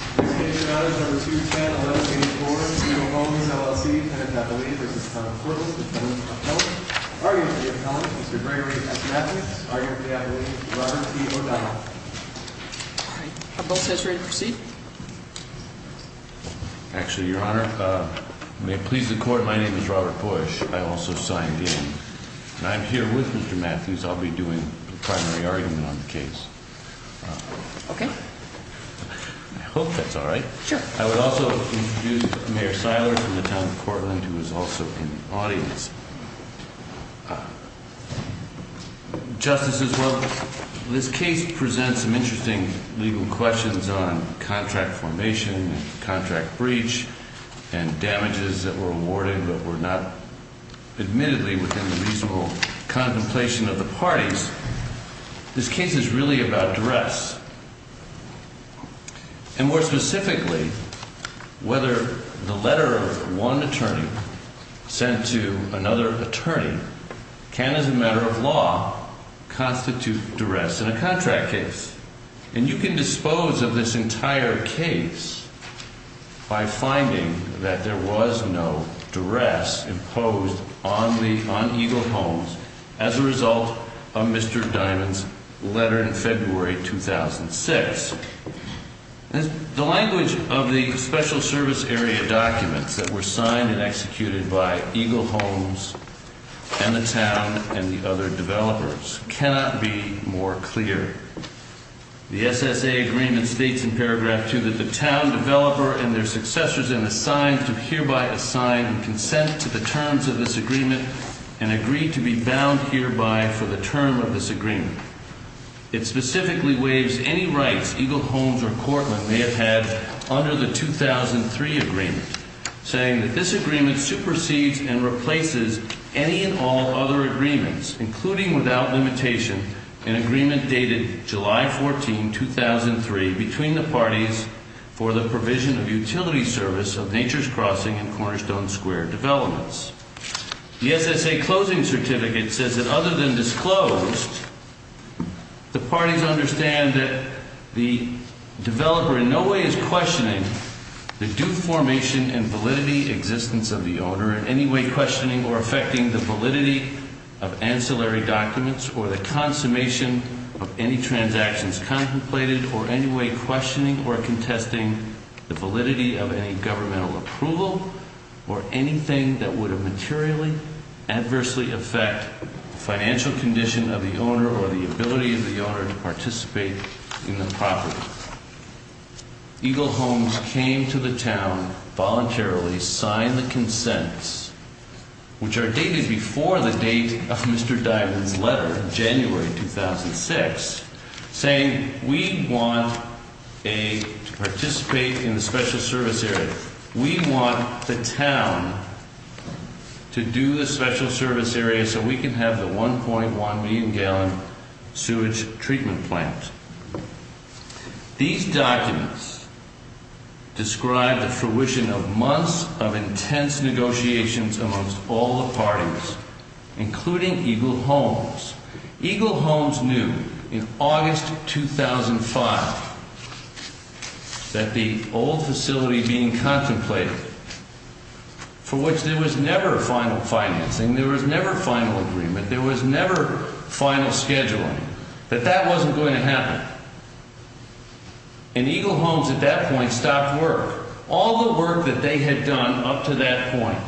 Argument of the appellant, Mr. Gregory S. Matthews. Argument of the appellant, Robert T. O'Donnell. Are both sides ready to proceed? Actually, Your Honor, may it please the Court, my name is Robert Bush. I also signed in. And I'm here with Mr. Matthews. I'll be doing the primary argument on the case. Okay. I hope that's all right. Sure. I would also introduce Mayor Siler from the Town of Cortland, who is also in the audience. Justices, well, this case presents some interesting legal questions on contract formation, contract breach, and damages that were awarded but were not admittedly within the reasonable contemplation of the parties. This case is really about duress. And more specifically, whether the letter of one attorney sent to another attorney can, as a matter of law, constitute duress in a contract case. And you can dispose of this entire case by finding that there was no duress imposed on Eagle Homes as a result of Mr. Dimond's letter in February 2006. The language of the special service area documents that were signed and executed by Eagle Homes and the Town and the other developers cannot be more clear. The SSA agreement states in paragraph 2 that the Town developer and their successors in the sign have to hereby assign consent to the terms of this agreement and agree to be bound hereby for the term of this agreement. It specifically waives any rights Eagle Homes or Cortland may have had under the 2003 agreement, saying that this agreement supersedes and replaces any and all other agreements, including without limitation an agreement dated July 14, 2003, between the parties for the provision of utility service of Nature's Crossing and Cornerstone Square developments. The SSA closing certificate says that other than disclosed, the parties understand that the developer in no way is questioning the due formation and validity existence of the owner in any way questioning or affecting the validity of ancillary documents or the consummation of any transactions contemplated or any way questioning or contesting the validity of any governmental approval or anything that would materially, adversely affect the financial condition of the owner or the ability of the owner to participate in the property. Eagle Homes came to the Town voluntarily, signed the consents, which are dated before the date of Mr. Diamond's letter, January 2006, saying we want to participate in the special service area. We want the Town to do the special service area so we can have the 1.1 million gallon sewage treatment plant. These documents describe the fruition of months of intense negotiations amongst all the parties, including Eagle Homes. Eagle Homes knew in August 2005 that the old facility being contemplated, for which there was never a final financing, there was never a final agreement, there was never final scheduling, that that wasn't going to happen. And Eagle Homes at that point stopped work. All the work that they had done up to that point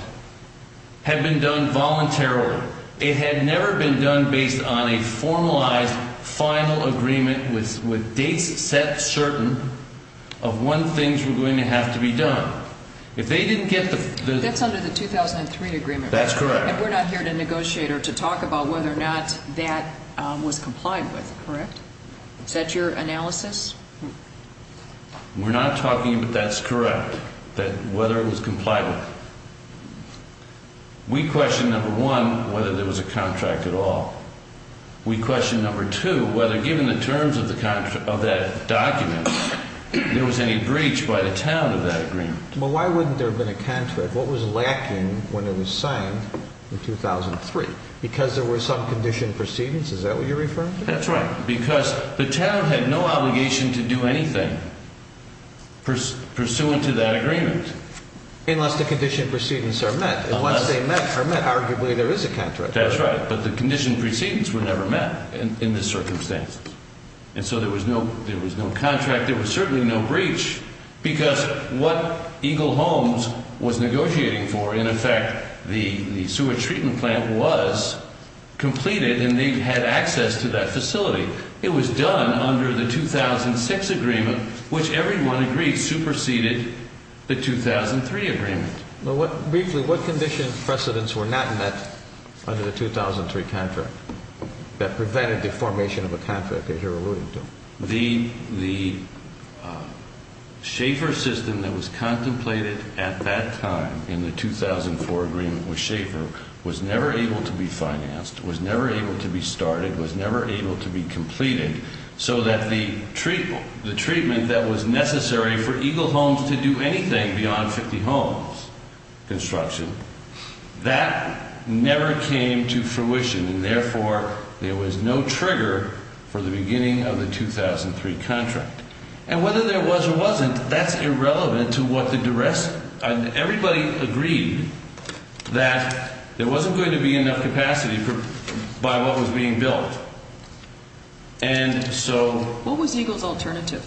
had been done voluntarily. It had never been done based on a formalized final agreement with dates set certain of when things were going to have to be done. That's under the 2003 agreement, right? That's correct. And we're not here to negotiate or to talk about whether or not that was complied with, correct? Is that your analysis? We're not talking about that's correct, that whether it was complied with. We question, number one, whether there was a contract at all. We question, number two, whether given the terms of that document, there was any breach by the town of that agreement. Well, why wouldn't there have been a contract? What was lacking when it was signed in 2003? Because there were some conditioned proceedings? Is that what you're referring to? That's right. Because the town had no obligation to do anything pursuant to that agreement. Unless the conditioned proceedings are met. Unless they are met, arguably there is a contract. That's right. But the conditioned proceedings were never met in this circumstance. And so there was no contract. There was certainly no breach because what Eagle Homes was negotiating for, in effect, the sewage treatment plant was completed and they had access to that facility. It was done under the 2006 agreement, which everyone agreed superseded the 2003 agreement. Briefly, what conditioned precedents were not met under the 2003 contract that prevented the formation of a contract that you're alluding to? The Schaefer system that was contemplated at that time in the 2004 agreement with Schaefer was never able to be financed, was never able to be started, was never able to be completed, so that the treatment that was necessary for Eagle Homes to do anything beyond 50 homes construction, that never came to fruition. And therefore, there was no trigger for the beginning of the 2003 contract. And whether there was or wasn't, that's irrelevant to what the duress, everybody agreed that there wasn't going to be enough capacity by what was being built. And so... What was Eagle's alternative?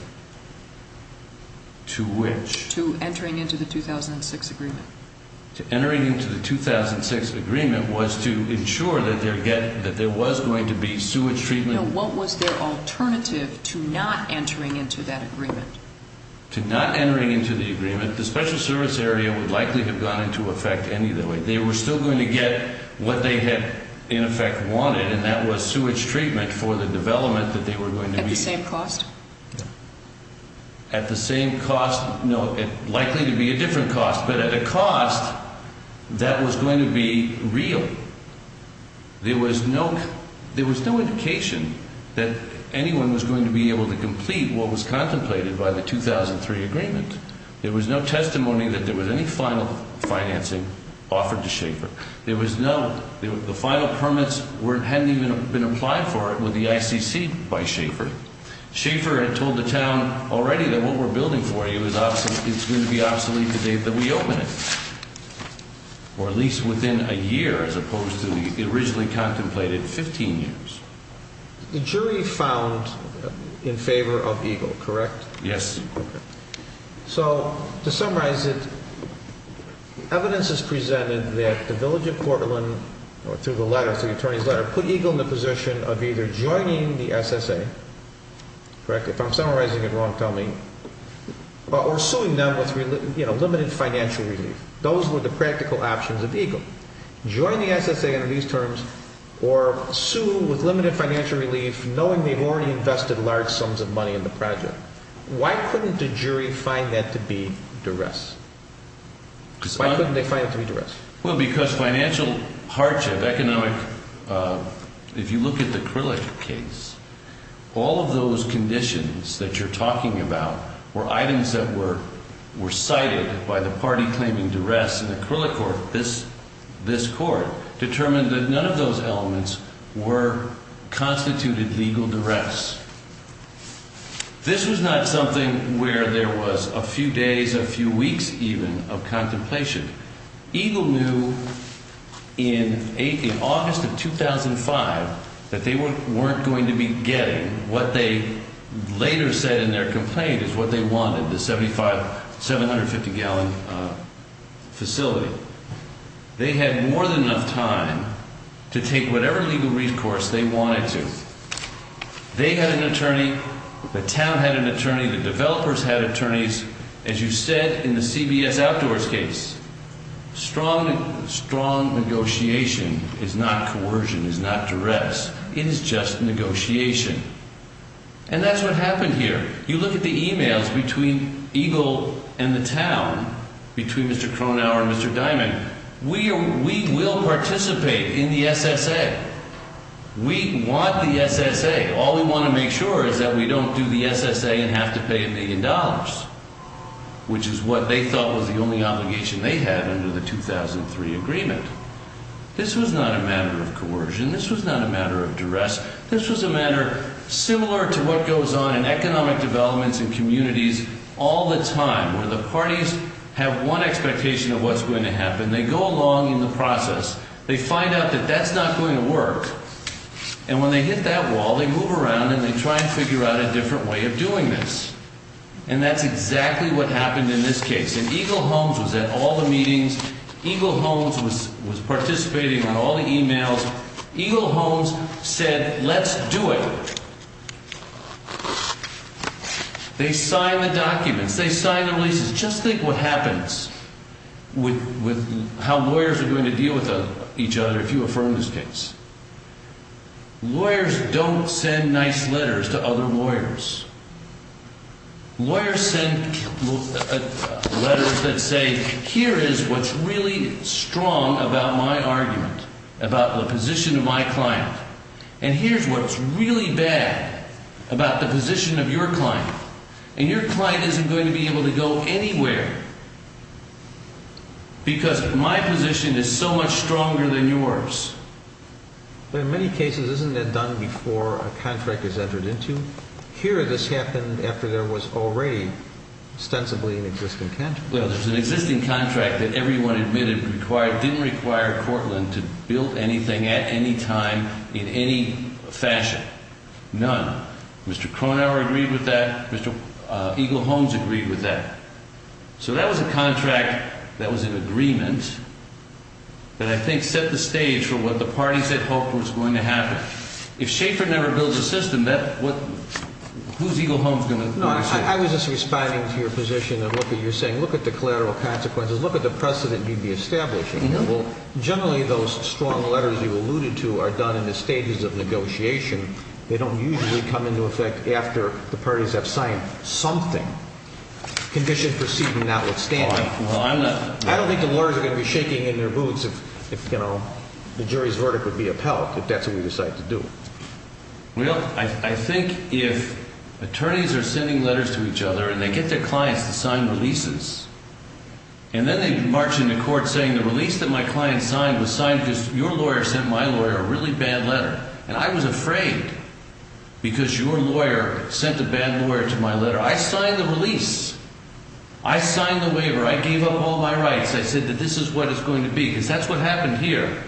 To which? To entering into the 2006 agreement. To entering into the 2006 agreement was to ensure that there was going to be sewage treatment... No, what was their alternative to not entering into that agreement? To not entering into the agreement, the special service area would likely have gone into effect anyway. They were still going to get what they had in effect wanted, and that was sewage treatment for the development that they were going to be... At the same cost? At the same cost... No, likely to be a different cost, but at a cost that was going to be real. There was no indication that anyone was going to be able to complete what was contemplated by the 2003 agreement. There was no testimony that there was any final financing offered to Schaefer. There was no... The final permits hadn't even been applied for with the ICC by Schaefer. Schaefer had told the town already that what we're building for you is going to be obsolete the date that we open it. Or at least within a year, as opposed to the originally contemplated 15 years. The jury found in favor of Eagle, correct? Yes. So, to summarize it, evidence is presented that the Village of Portland, through the attorney's letter, put Eagle in the position of either joining the SSA, correct? If I'm summarizing it wrong, tell me. Or suing them with limited financial relief. Those were the practical options of Eagle. Join the SSA under these terms, or sue with limited financial relief, knowing they've already invested large sums of money in the project. Why couldn't the jury find that to be duress? Why couldn't they find it to be duress? Well, because financial hardship, economic... If you look at the Krillick case, all of those conditions that you're talking about were items that were cited by the party claiming duress, and the Krillick court, this court, determined that none of those elements were constituted legal duress. This was not something where there was a few days, a few weeks even, of contemplation. Eagle knew in August of 2005 that they weren't going to be getting what they later said in their complaint is what they wanted, the 750-gallon facility. They had more than enough time to take whatever legal recourse they wanted to. They had an attorney. The town had an attorney. The developers had attorneys. As you said in the CBS Outdoors case, strong negotiation is not coercion, is not duress. It is just negotiation. And that's what happened here. You look at the emails between Eagle and the town, between Mr. Cronauer and Mr. Diamond, we will participate in the SSA. We want the SSA. All we want to make sure is that we don't do the SSA and have to pay a million dollars, which is what they thought was the only obligation they had under the 2003 agreement. This was not a matter of coercion. This was not a matter of duress. This was a matter similar to what goes on in economic developments in communities all the time, where the parties have one expectation of what's going to happen. They go along in the process. They find out that that's not going to work. And when they hit that wall, they move around, and they try and figure out a different way of doing this. And that's exactly what happened in this case. And Eagle Homes was at all the meetings. Eagle Homes was participating on all the emails. Eagle Homes said, let's do it. They signed the documents. They signed the releases. Just think what happens with how lawyers are going to deal with each other if you affirm this case. Lawyers don't send nice letters to other lawyers. Lawyers send letters that say, here is what's really strong about my argument, about the position of my client, and here's what's really bad about the position of your client. And your client isn't going to be able to go anywhere because my position is so much stronger than yours. But in many cases, isn't that done before a contract is entered into? Here, this happened after there was already ostensibly an existing contract. Well, there's an existing contract that everyone admitted didn't require Cortland to build anything at any time in any fashion. None. Mr. Cronauer agreed with that. Mr. Eagle Homes agreed with that. So that was a contract that was in agreement that I think set the stage for what the parties had hoped was going to happen. If Schaefer never builds a system, who's Eagle Homes going to say? I was just responding to your position of what you're saying. Look at the collateral consequences. Look at the precedent you'd be establishing. Generally, those strong letters you alluded to are done in the stages of negotiation. They don't usually come into effect after the parties have signed something. Condition proceeding notwithstanding. I don't think the lawyers are going to be shaking in their boots if the jury's verdict would be upheld, if that's what we decide to do. Well, I think if attorneys are sending letters to each other and they get their clients to sign releases, and then they march into court saying the release that my client signed was signed because your lawyer sent my lawyer a really bad letter, and I was afraid because your lawyer sent a bad lawyer to my letter. I signed the release. I signed the waiver. I gave up all my rights. I said that this is what it's going to be because that's what happened here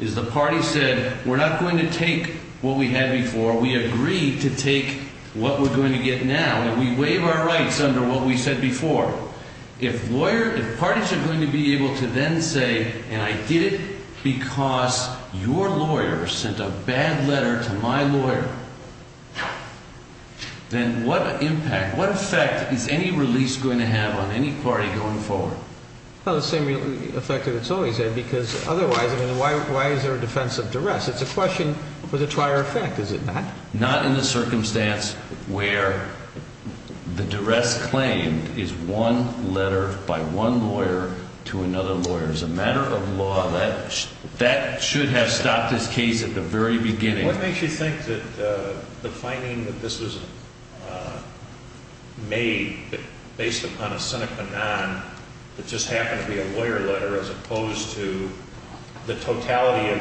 is the party said we're not going to take what we had before. We agreed to take what we're going to get now, and we waive our rights under what we said before. If parties are going to be able to then say, and I did it because your lawyer sent a bad letter to my lawyer, then what impact, what effect is any release going to have on any party going forward? Well, the same effect that it's always had because otherwise, I mean, why is there a defense of duress? It's a question for the trier effect, is it not? Not in the circumstance where the duress claim is one letter by one lawyer to another lawyer. As a matter of law, that should have stopped this case at the very beginning. What makes you think that the finding that this was made based upon a sine qua non that just happened to be a lawyer letter as opposed to the totality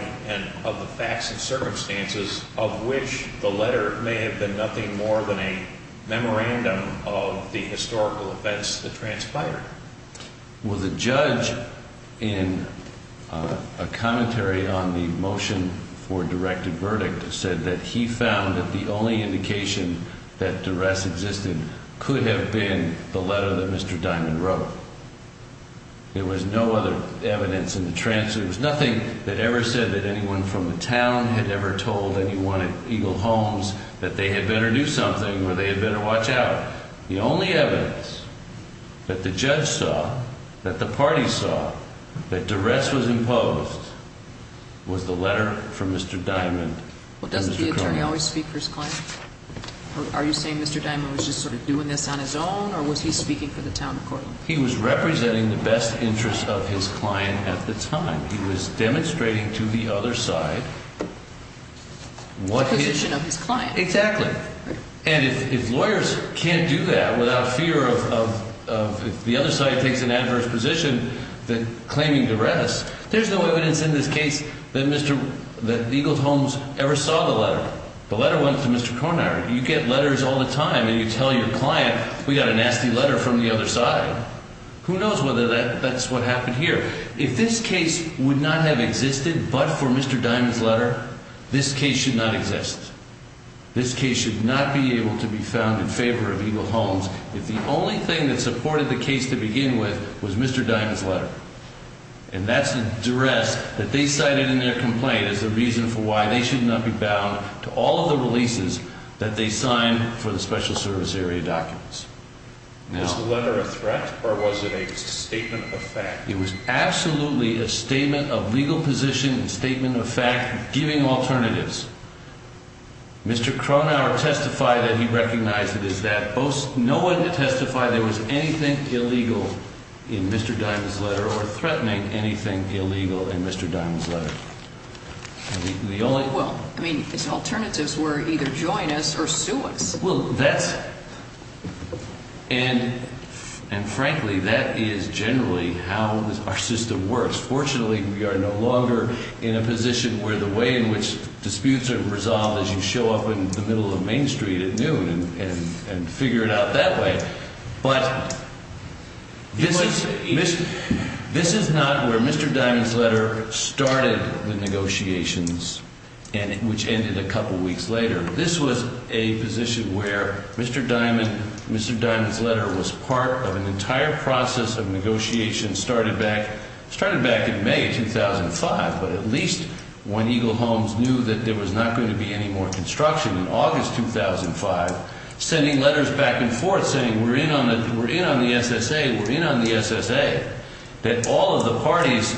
of the facts and circumstances of which the letter may have been nothing more than a memorandum of the historical events that transpired? Well, the judge in a commentary on the motion for directed verdict said that he found that the only indication that duress existed could have been the letter that Mr. Diamond wrote. There was no other evidence in the trance. There was nothing that ever said that anyone from the town had ever told anyone at Eagle Homes that they had better do something or they had better watch out. The only evidence that the judge saw, that the party saw, that duress was imposed was the letter from Mr. Diamond. Well, doesn't the attorney always speak for his client? Are you saying Mr. Diamond was just sort of doing this on his own or was he speaking for the town court? He was representing the best interest of his client at the time. He was demonstrating to the other side what his... The position of his client. Exactly. And if lawyers can't do that without fear of if the other side takes an adverse position that claiming duress... There's no evidence in this case that Mr. Eagle Homes ever saw the letter. The letter went to Mr. Cronauer. You get letters all the time and you tell your client, we got a nasty letter from the other side. Who knows whether that's what happened here. If this case would not have existed but for Mr. Diamond's letter, this case should not exist. This case should not be able to be found in favor of Eagle Homes if the only thing that supported the case to begin with was Mr. Diamond's letter. And that's a duress that they cited in their complaint as the reason for why they should not be bound to all of the releases that they signed for the special service area documents. Was the letter a threat or was it a statement of fact? It was absolutely a statement of legal position and statement of fact giving alternatives. Mr. Cronauer testified that he recognized it as that. No one testified there was anything illegal in Mr. Diamond's letter or threatening anything illegal in Mr. Diamond's letter. The only... Well, I mean his alternatives were either join us or sue us. Well, that's and frankly that is generally how our system works. Fortunately, we are no longer in a position where the way in which disputes are resolved is you show up in the middle of Main Street at noon and figure it out that way. But this is not where Mr. Diamond's letter started the negotiations and which ended a couple weeks later. This was a position where Mr. Diamond, Mr. Diamond's letter was part of an entire process of negotiations started back in May 2005. But at least when Eagle Holmes knew that there was not going to be any more construction in August 2005, sending letters back and forth saying we're in on the SSA, we're in on the SSA. That all of the parties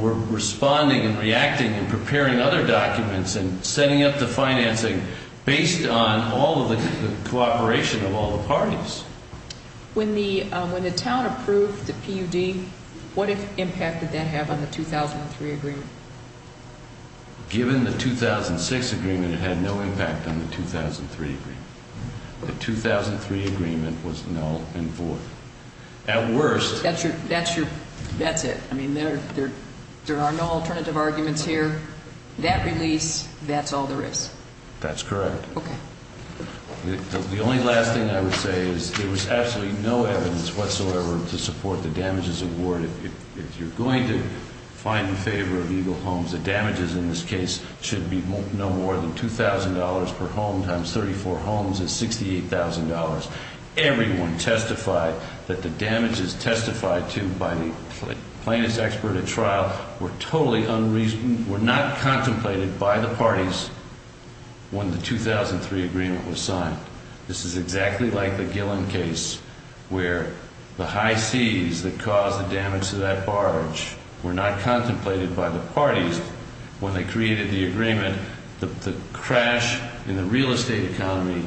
were responding and reacting and preparing other documents and setting up the financing based on all of the cooperation of all the parties. When the town approved the PUD, what impact did that have on the 2003 agreement? Given the 2006 agreement, it had no impact on the 2003 agreement. The 2003 agreement was null and void. At worst... That's your, that's your, that's it. I mean, there are no alternative arguments here. That release, that's all there is. That's correct. Okay. The only last thing I would say is there was absolutely no evidence whatsoever to support the damages award. If you're going to find in favor of Eagle Holmes, the damages in this case should be no more than $2,000 per home times 34 homes is $68,000. Everyone testified that the damages testified to by the plaintiff's expert at trial were totally unreasonable, were not contemplated by the parties when the 2003 agreement was signed. This is exactly like the Gillen case where the high seas that caused the damage to that barge were not contemplated by the parties when they created the agreement. The crash in the real estate economy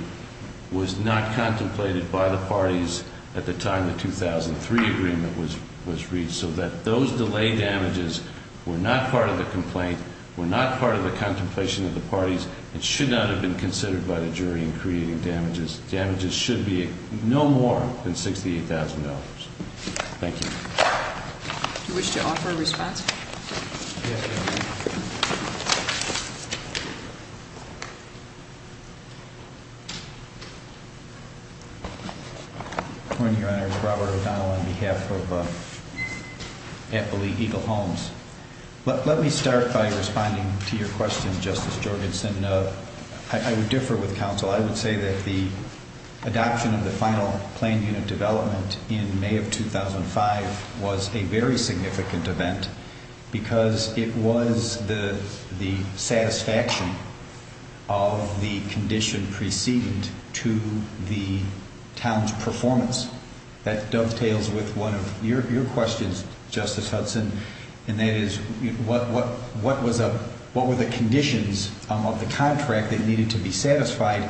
was not contemplated by the parties at the time the 2003 agreement was reached. So that those delay damages were not part of the complaint, were not part of the contemplation of the parties, and should not have been considered by the jury in creating damages. Damages should be no more than $68,000. Thank you. Do you wish to offer a response? Yes, Your Honor. Your Honor, Robert O'Donnell on behalf of Eagle Holmes. Let me start by responding to your question, Justice Jorgensen. I would differ with counsel. I would say that the adoption of the final plan unit development in May of 2005 was a very significant event because it was the satisfaction of the condition preceded to the town's performance. That dovetails with one of your questions, Justice Hudson, and that is what were the conditions of the contract that needed to be satisfied?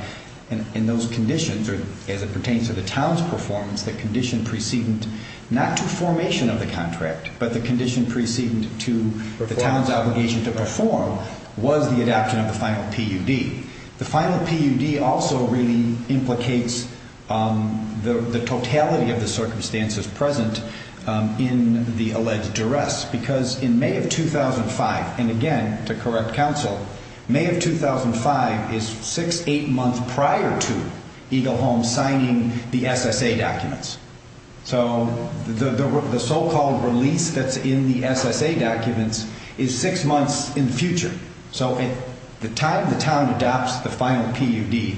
And those conditions, as it pertains to the town's performance, the condition preceded not to formation of the contract, but the condition preceded to the town's obligation to perform, was the adoption of the final PUD. The final PUD also really implicates the totality of the circumstances present in the alleged duress because in May of 2005, and again, to correct counsel, May of 2005 is six, eight months prior to Eagle Holmes signing the SSA documents. So the so-called release that's in the SSA documents is six months in the future. So at the time the town adopts the final PUD,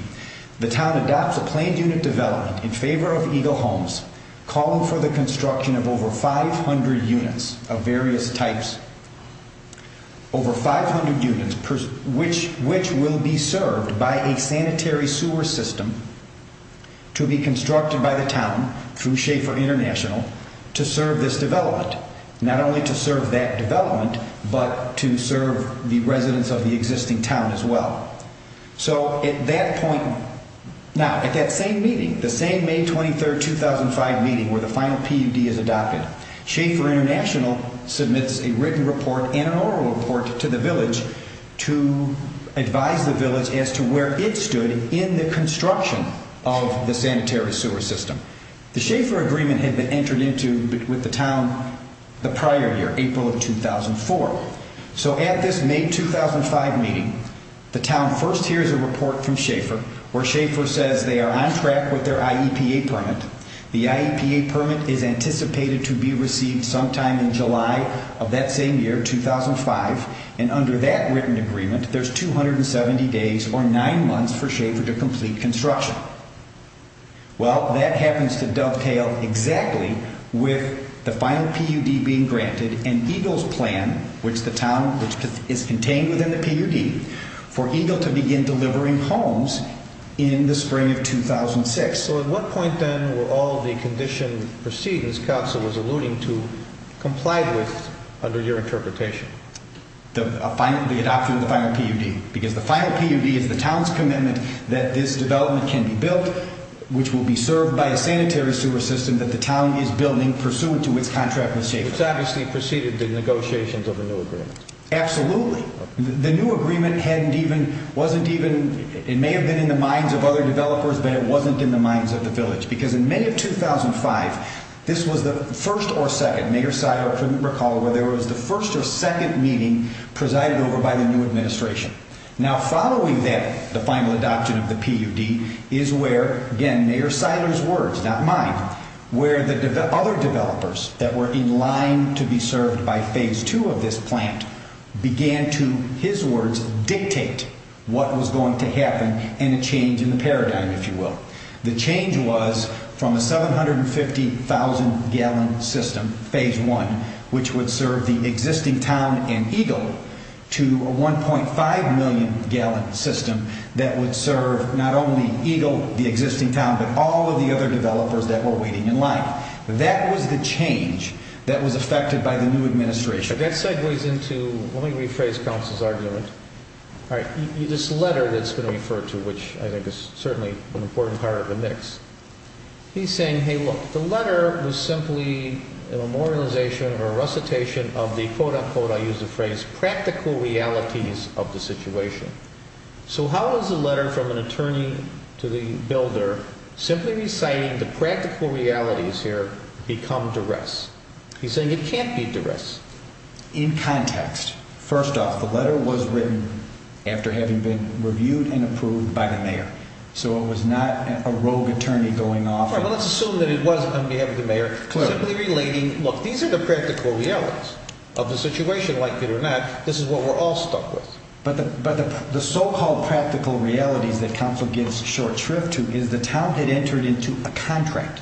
the town adopts a planned unit development in favor of Eagle Holmes calling for the construction of over 500 units of various types, over 500 units, which will be served by a sanitary sewer system to be constructed by the town through Schaefer International to serve this development. Not only to serve that development, but to serve the residents of the existing town as well. So at that point, now at that same meeting, the same May 23rd, 2005 meeting where the final PUD is adopted, Schaefer International submits a written report and an oral report to the village to advise the village as to where it stood in the construction of the sanitary sewer system. The Schaefer agreement had been entered into with the town the prior year, April of 2004. So at this May 2005 meeting, the town first hears a report from Schaefer where Schaefer says they are on track with their IEPA permit. The IEPA permit is anticipated to be received sometime in July of that same year, 2005, and under that written agreement, there's 270 days or nine months for Schaefer to complete construction. Well, that happens to dovetail exactly with the final PUD being granted and EGLE's plan, which the town, which is contained within the PUD, for EGLE to begin delivering homes in the spring of 2006. So at what point then were all the condition proceedings, Council was alluding to, complied with under your interpretation? The adoption of the final PUD, because the final PUD is the town's commitment that this development can be built, which will be served by a sanitary sewer system that the town is building pursuant to its contract with Schaefer. Which obviously preceded the negotiations of the new agreement. Absolutely. The new agreement hadn't even, wasn't even, it may have been in the minds of other developers, but it wasn't in the minds of the village. Because in May of 2005, this was the first or second, Mayor Seiler couldn't recall whether it was the first or second meeting presided over by the new administration. Now, following that, the final adoption of the PUD is where, again, Mayor Seiler's words, not mine, where the other developers that were in line to be served by phase two of this plant began to, his words, dictate what was going to happen and a change in the paradigm, if you will. The change was from a 750,000-gallon system, phase one, which would serve the existing town and EGLE, to a 1.5-million-gallon system that would serve not only EGLE, the existing town, but all of the other developers that were waiting in line. That was the change that was affected by the new administration. That segues into, let me rephrase Council's argument, this letter that's been referred to, which I think is certainly an important part of the mix. He's saying, hey, look, the letter was simply a memorialization or a recitation of the, quote-unquote, I use the phrase, practical realities of the situation. So how is a letter from an attorney to the builder simply reciting the practical realities here become duress? He's saying it can't be duress. In context, first off, the letter was written after having been reviewed and approved by the mayor. So it was not a rogue attorney going off. Let's assume that it was on behalf of the mayor, simply relating, look, these are the practical realities of the situation. Like it or not, this is what we're all stuck with. But the so-called practical realities that Council gives short shrift to is the town had entered into a contract,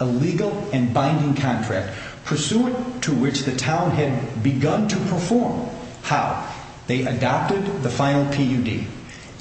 a legal and binding contract, pursuant to which the town had begun to perform. How? They adopted the final PUD.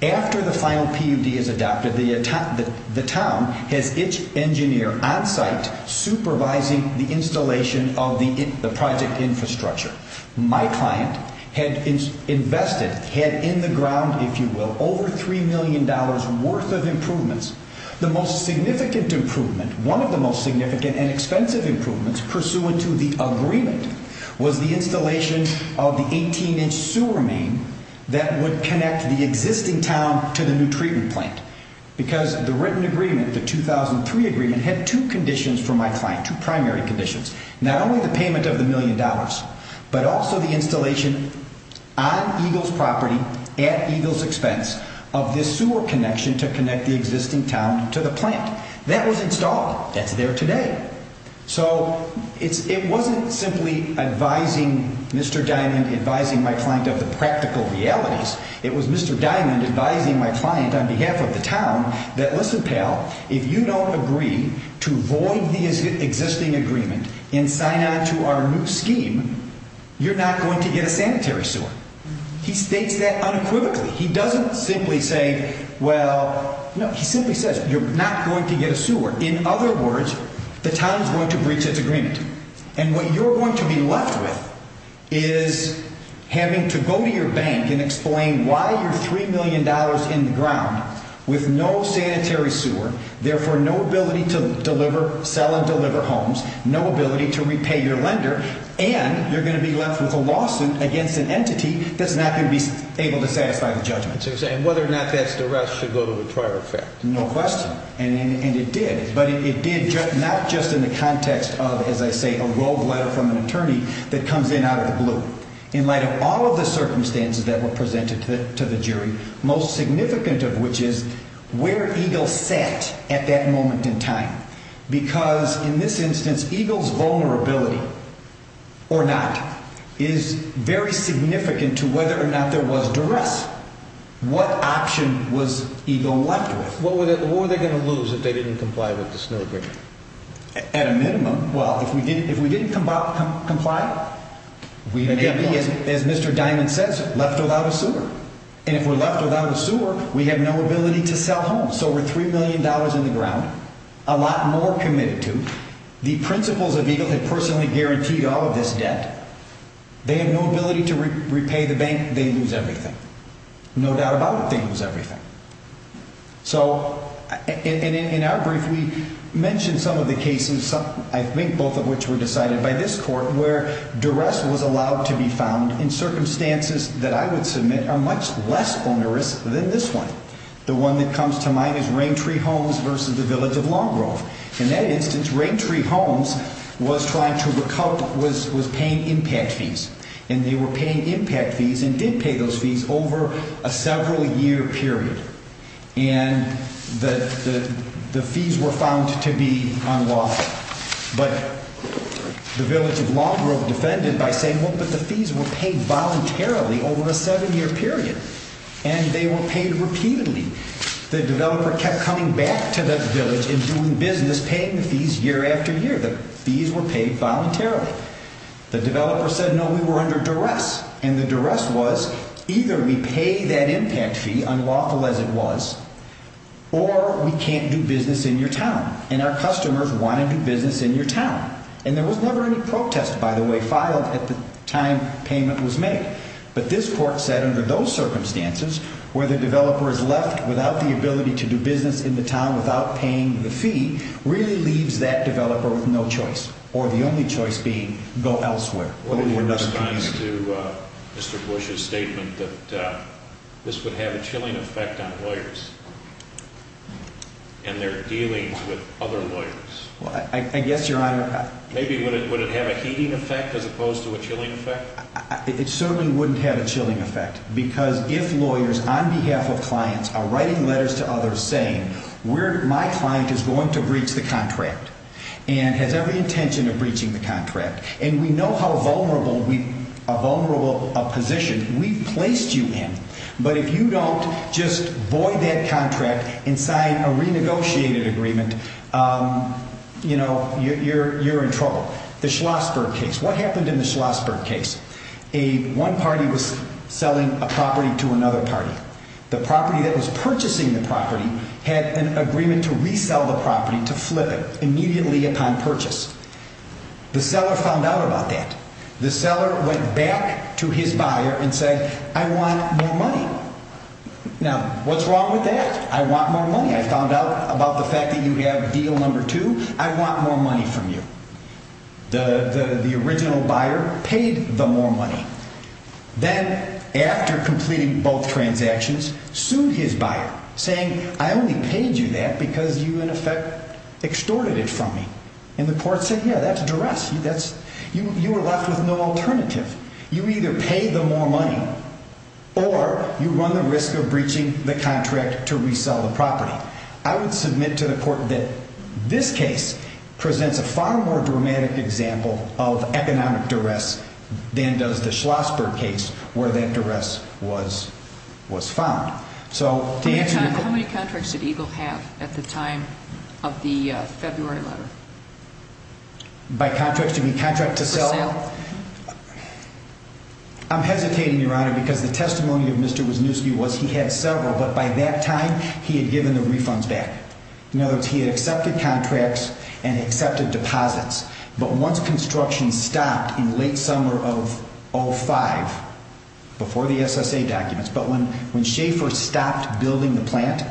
After the final PUD is adopted, the town has its engineer on site supervising the installation of the project infrastructure. My client had invested, had in the ground, if you will, over $3 million worth of improvements. The most significant improvement, one of the most significant and expensive improvements, pursuant to the agreement, was the installation of the 18-inch sewer main that would connect the existing town to the new treatment plant. Because the written agreement, the 2003 agreement, had two conditions for my client, two primary conditions. Not only the payment of the million dollars, but also the installation on Eagle's property, at Eagle's expense, of this sewer connection to connect the existing town to the plant. That was installed. That's there today. So it wasn't simply Mr. Diamond advising my client of the practical realities. It was Mr. Diamond advising my client on behalf of the town that, listen, pal, if you don't agree to void the existing agreement and sign on to our new scheme, you're not going to get a sanitary sewer. He states that unequivocally. He doesn't simply say, well, no. He simply says, you're not going to get a sewer. In other words, the town is going to breach its agreement. And what you're going to be left with is having to go to your bank and explain why you're $3 million in the ground with no sanitary sewer, therefore no ability to sell and deliver homes, no ability to repay your lender, and you're going to be left with a lawsuit against an entity that's not going to be able to satisfy the judgment. And whether or not that's the rest should go to the trial effect. No question. And it did. But it did not just in the context of, as I say, a rogue letter from an attorney that comes in out of the blue. In light of all of the circumstances that were presented to the jury, most significant of which is where Eagle sat at that moment in time. Because in this instance, Eagle's vulnerability or not is very significant to whether or not there was duress. What option was Eagle left with? What were they going to lose if they didn't comply with this new agreement? At a minimum, well, if we didn't comply, we may be, as Mr. Diamond says, left without a sewer. And if we're left without a sewer, we have no ability to sell homes. So we're $3 million in the ground, a lot more committed to. The principles of Eagle had personally guaranteed all of this debt. They have no ability to repay the bank. They lose everything. No doubt about it, they lose everything. So in our brief, we mentioned some of the cases, I think both of which were decided by this court, where duress was allowed to be found in circumstances that I would submit are much less onerous than this one. The one that comes to mind is Raintree Homes versus the Village of Long Grove. In that instance, Raintree Homes was trying to recoup, was paying impact fees. And they were paying impact fees and did pay those fees over a several-year period. And the fees were found to be unlawful. But the Village of Long Grove defended by saying, well, but the fees were paid voluntarily over a seven-year period. And they were paid repeatedly. The developer kept coming back to the village and doing business, paying the fees year after year. The fees were paid voluntarily. The developer said, no, we were under duress. And the duress was either we pay that impact fee, unlawful as it was, or we can't do business in your town. And our customers want to do business in your town. And there was never any protest, by the way, filed at the time payment was made. But this court said under those circumstances where the developer is left without the ability to do business in the town without paying the fee really leaves that developer with no choice, or the only choice being go elsewhere. What are your response to Mr. Bush's statement that this would have a chilling effect on lawyers and their dealings with other lawyers? I guess, Your Honor. Maybe would it have a heating effect as opposed to a chilling effect? It certainly wouldn't have a chilling effect. Because if lawyers on behalf of clients are writing letters to others saying my client is going to breach the contract and has every intention of breaching the contract, and we know how vulnerable a position we've placed you in, but if you don't just void that contract and sign a renegotiated agreement, you're in trouble. The Schlossberg case. What happened in the Schlossberg case? One party was selling a property to another party. The property that was purchasing the property had an agreement to resell the property to flip it immediately upon purchase. The seller found out about that. The seller went back to his buyer and said, I want more money. Now, what's wrong with that? I want more money. I found out about the fact that you have deal number two. I want more money from you. The original buyer paid the more money. Then, after completing both transactions, sued his buyer, saying I only paid you that because you, in effect, extorted it from me. And the court said, yeah, that's duress. You were left with no alternative. You either pay the more money or you run the risk of breaching the contract to resell the property. I would submit to the court that this case presents a far more dramatic example of economic duress than does the Schlossberg case where that duress was found. How many contracts did Eagle have at the time of the February letter? By contract, do you mean contract to sell? To sell. I'm hesitating, Your Honor, because the testimony of Mr. Wisniewski was he had several, but by that time he had given the refunds back. In other words, he had accepted contracts and accepted deposits. But once construction stopped in late summer of 05, before the SSA documents, but when Schaefer stopped building the plant,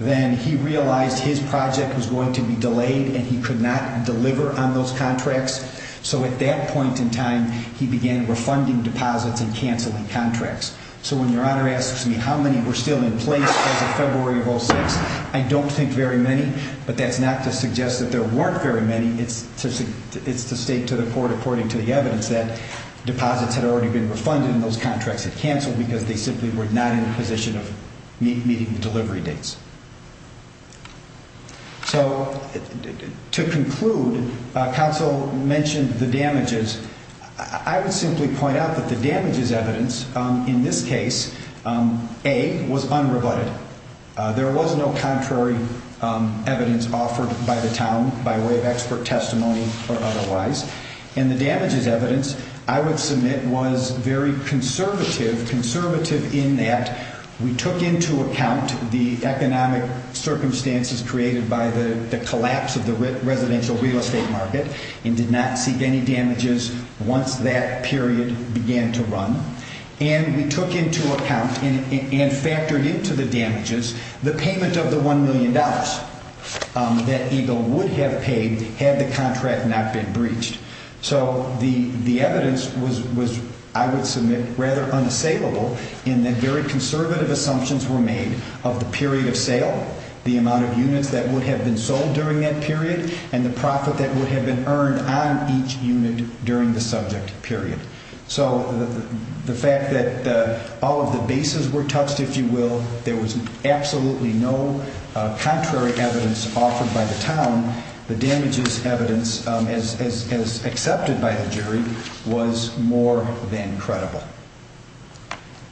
then he realized his project was going to be delayed and he could not deliver on those contracts. So at that point in time, he began refunding deposits and canceling contracts. So when Your Honor asks me how many were still in place as of February of 06, I don't think very many. But that's not to suggest that there weren't very many. It's to state to the court, according to the evidence, that deposits had already been refunded and those contracts had canceled because they simply were not in a position of meeting the delivery dates. So to conclude, counsel mentioned the damages. I would simply point out that the damages evidence in this case, A, was unrebutted. There was no contrary evidence offered by the town by way of expert testimony or otherwise. And the damages evidence, I would submit, was very conservative, conservative in that we took into account the economic circumstances created by the collapse of the residential real estate market and did not seek any damages once that period began to run. And we took into account and factored into the damages the payment of the $1 million that EGLE would have paid had the contract not been breached. So the evidence was, I would submit, rather unassailable in that very conservative assumptions were made of the period of sale, the amount of units that would have been sold during that period, and the profit that would have been earned on each unit during the subject period. So the fact that all of the bases were touched, if you will, there was absolutely no contrary evidence offered by the town. The damages evidence, as accepted by the jury, was more than credible.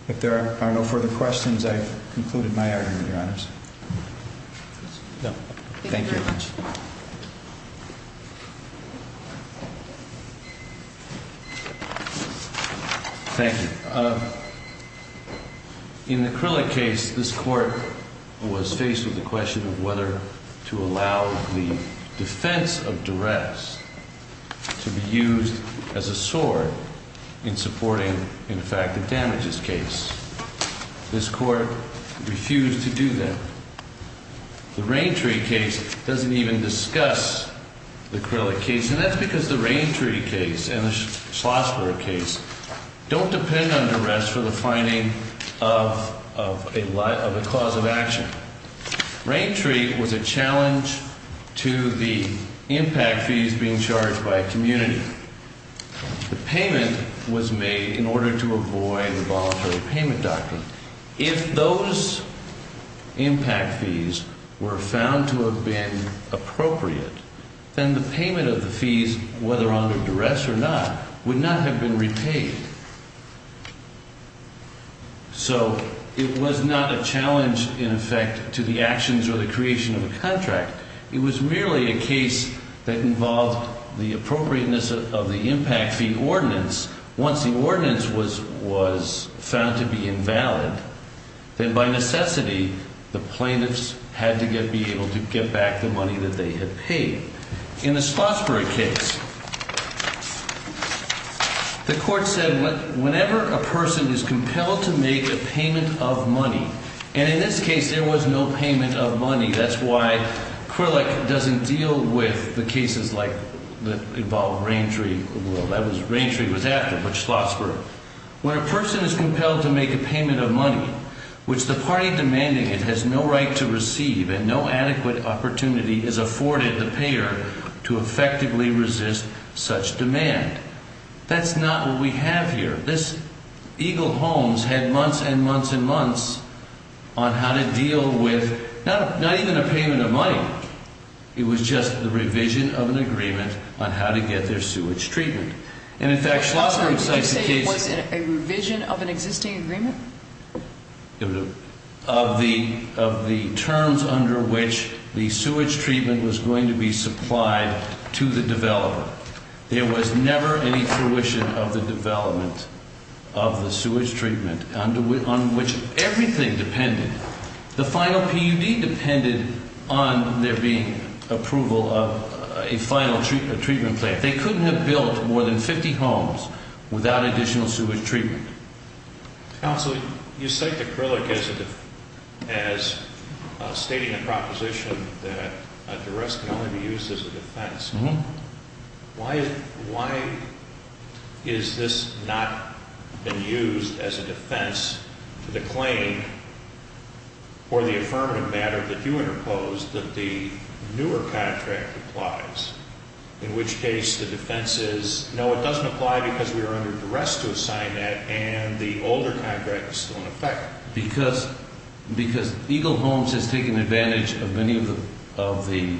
If there are no further questions, I've concluded my argument, Your Honors. Thank you very much. Thank you. In the Krillick case, this court was faced with the question of whether to allow the defense of duress to be used as a sword in supporting, in fact, the damages case. This court refused to do that. The Raintree case doesn't even discuss the Krillick case, and that's because the Raintree case and the Schlossberg case don't depend on duress for the finding of a cause of action. Raintree was a challenge to the impact fees being charged by a community. The payment was made in order to avoid the voluntary payment doctrine. If those impact fees were found to have been appropriate, then the payment of the fees, whether under duress or not, would not have been repaid. So it was not a challenge, in effect, to the actions or the creation of a contract. It was merely a case that involved the appropriateness of the impact fee ordinance. Once the ordinance was found to be invalid, then by necessity, the plaintiffs had to be able to get back the money that they had paid. In the Schlossberg case, the court said whenever a person is compelled to make a payment of money, and in this case, there was no payment of money. That's why Krillick doesn't deal with the cases that involve Raintree. Raintree was after, but Schlossberg. When a person is compelled to make a payment of money, which the party demanding it has no right to receive and no adequate opportunity is afforded the payer to effectively resist such demand. That's not what we have here. Eagle Homes had months and months and months on how to deal with not even a payment of money. It was just the revision of an agreement on how to get their sewage treatment. And in fact, Schlossberg cites the case. Did you say it was a revision of an existing agreement? Of the terms under which the sewage treatment was going to be supplied to the developer. There was never any fruition of the development of the sewage treatment on which everything depended. The final PUD depended on there being approval of a final treatment plant. They couldn't have built more than 50 homes without additional sewage treatment. Counsel, you cite the Krillick as stating a proposition that a duress can only be used as a defense. Why is this not being used as a defense to the claim or the affirmative matter that you interposed that the newer contract applies? In which case the defense is, no, it doesn't apply because we are under duress to assign that and the older contract is still in effect. Because Eagle Homes has taken advantage of many of the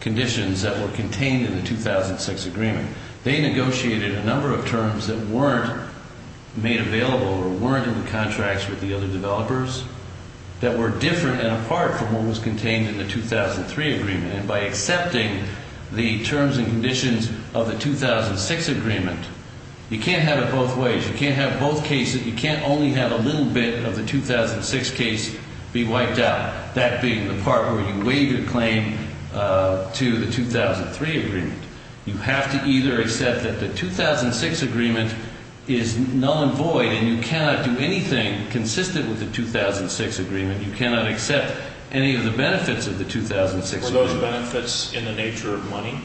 conditions that were contained in the 2006 agreement. They negotiated a number of terms that weren't made available or weren't in the contracts with the other developers. That were different and apart from what was contained in the 2003 agreement. By accepting the terms and conditions of the 2006 agreement, you can't have it both ways. You can't have both cases. You can't only have a little bit of the 2006 case be wiped out. That being the part where you waive your claim to the 2003 agreement. You have to either accept that the 2006 agreement is null and void and you cannot do anything consistent with the 2006 agreement. You cannot accept any of the benefits of the 2006 agreement. Were those benefits in the nature of money?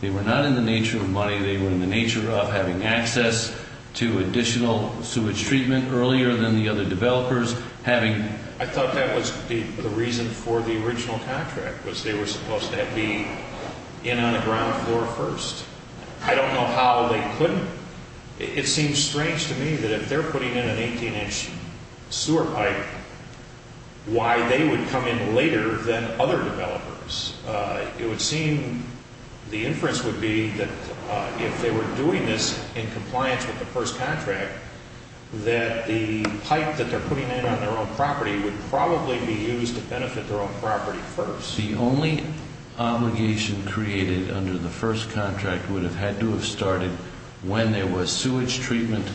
They were not in the nature of money. They were in the nature of having access to additional sewage treatment earlier than the other developers. I thought that was the reason for the original contract was they were supposed to be in on the ground floor first. I don't know how they couldn't. It seems strange to me that if they're putting in an 18-inch sewer pipe, why they would come in later than other developers. It would seem the inference would be that if they were doing this in compliance with the first contract, that the pipe that they're putting in on their own property would probably be used to benefit their own property first. The only obligation created under the first contract would have had to have started when there was sewage treatment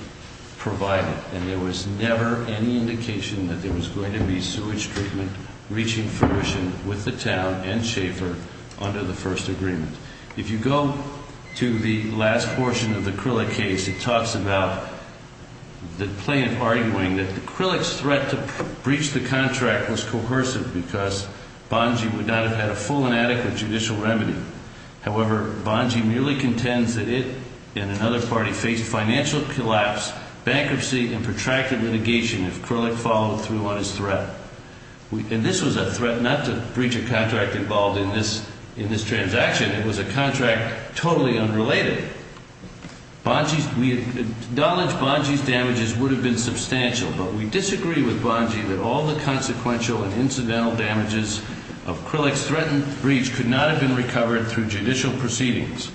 provided, and there was never any indication that there was going to be sewage treatment reaching fruition with the town and Schaefer under the first agreement. If you go to the last portion of the Krillick case, it talks about the plaintiff arguing that Krillick's threat to breach the contract was coercive because Bongi would not have had a full and adequate judicial remedy. However, Bongi merely contends that it and another party faced financial collapse, bankruptcy, and protracted litigation if Krillick followed through on his threat. And this was a threat not to breach a contract involved in this transaction. It was a contract totally unrelated. We acknowledge Bongi's damages would have been substantial, but we disagree with Bongi that all the consequential and incidental damages of Krillick's threatened breach could not have been recovered through judicial proceedings.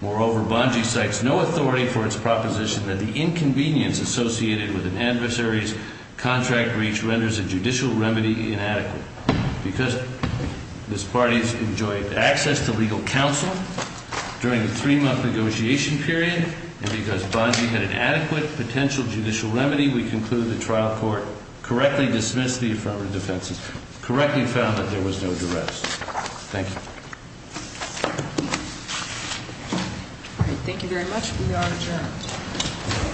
Moreover, Bongi cites no authority for its proposition that the inconvenience associated with an adversary's contract breach renders a judicial remedy inadequate. Because this party has enjoyed access to legal counsel during the three-month negotiation period, and because Bongi had an adequate potential judicial remedy, we conclude the trial court correctly dismissed the affirmative defense and correctly found that there was no duress. Thank you. Thank you very much. We are adjourned.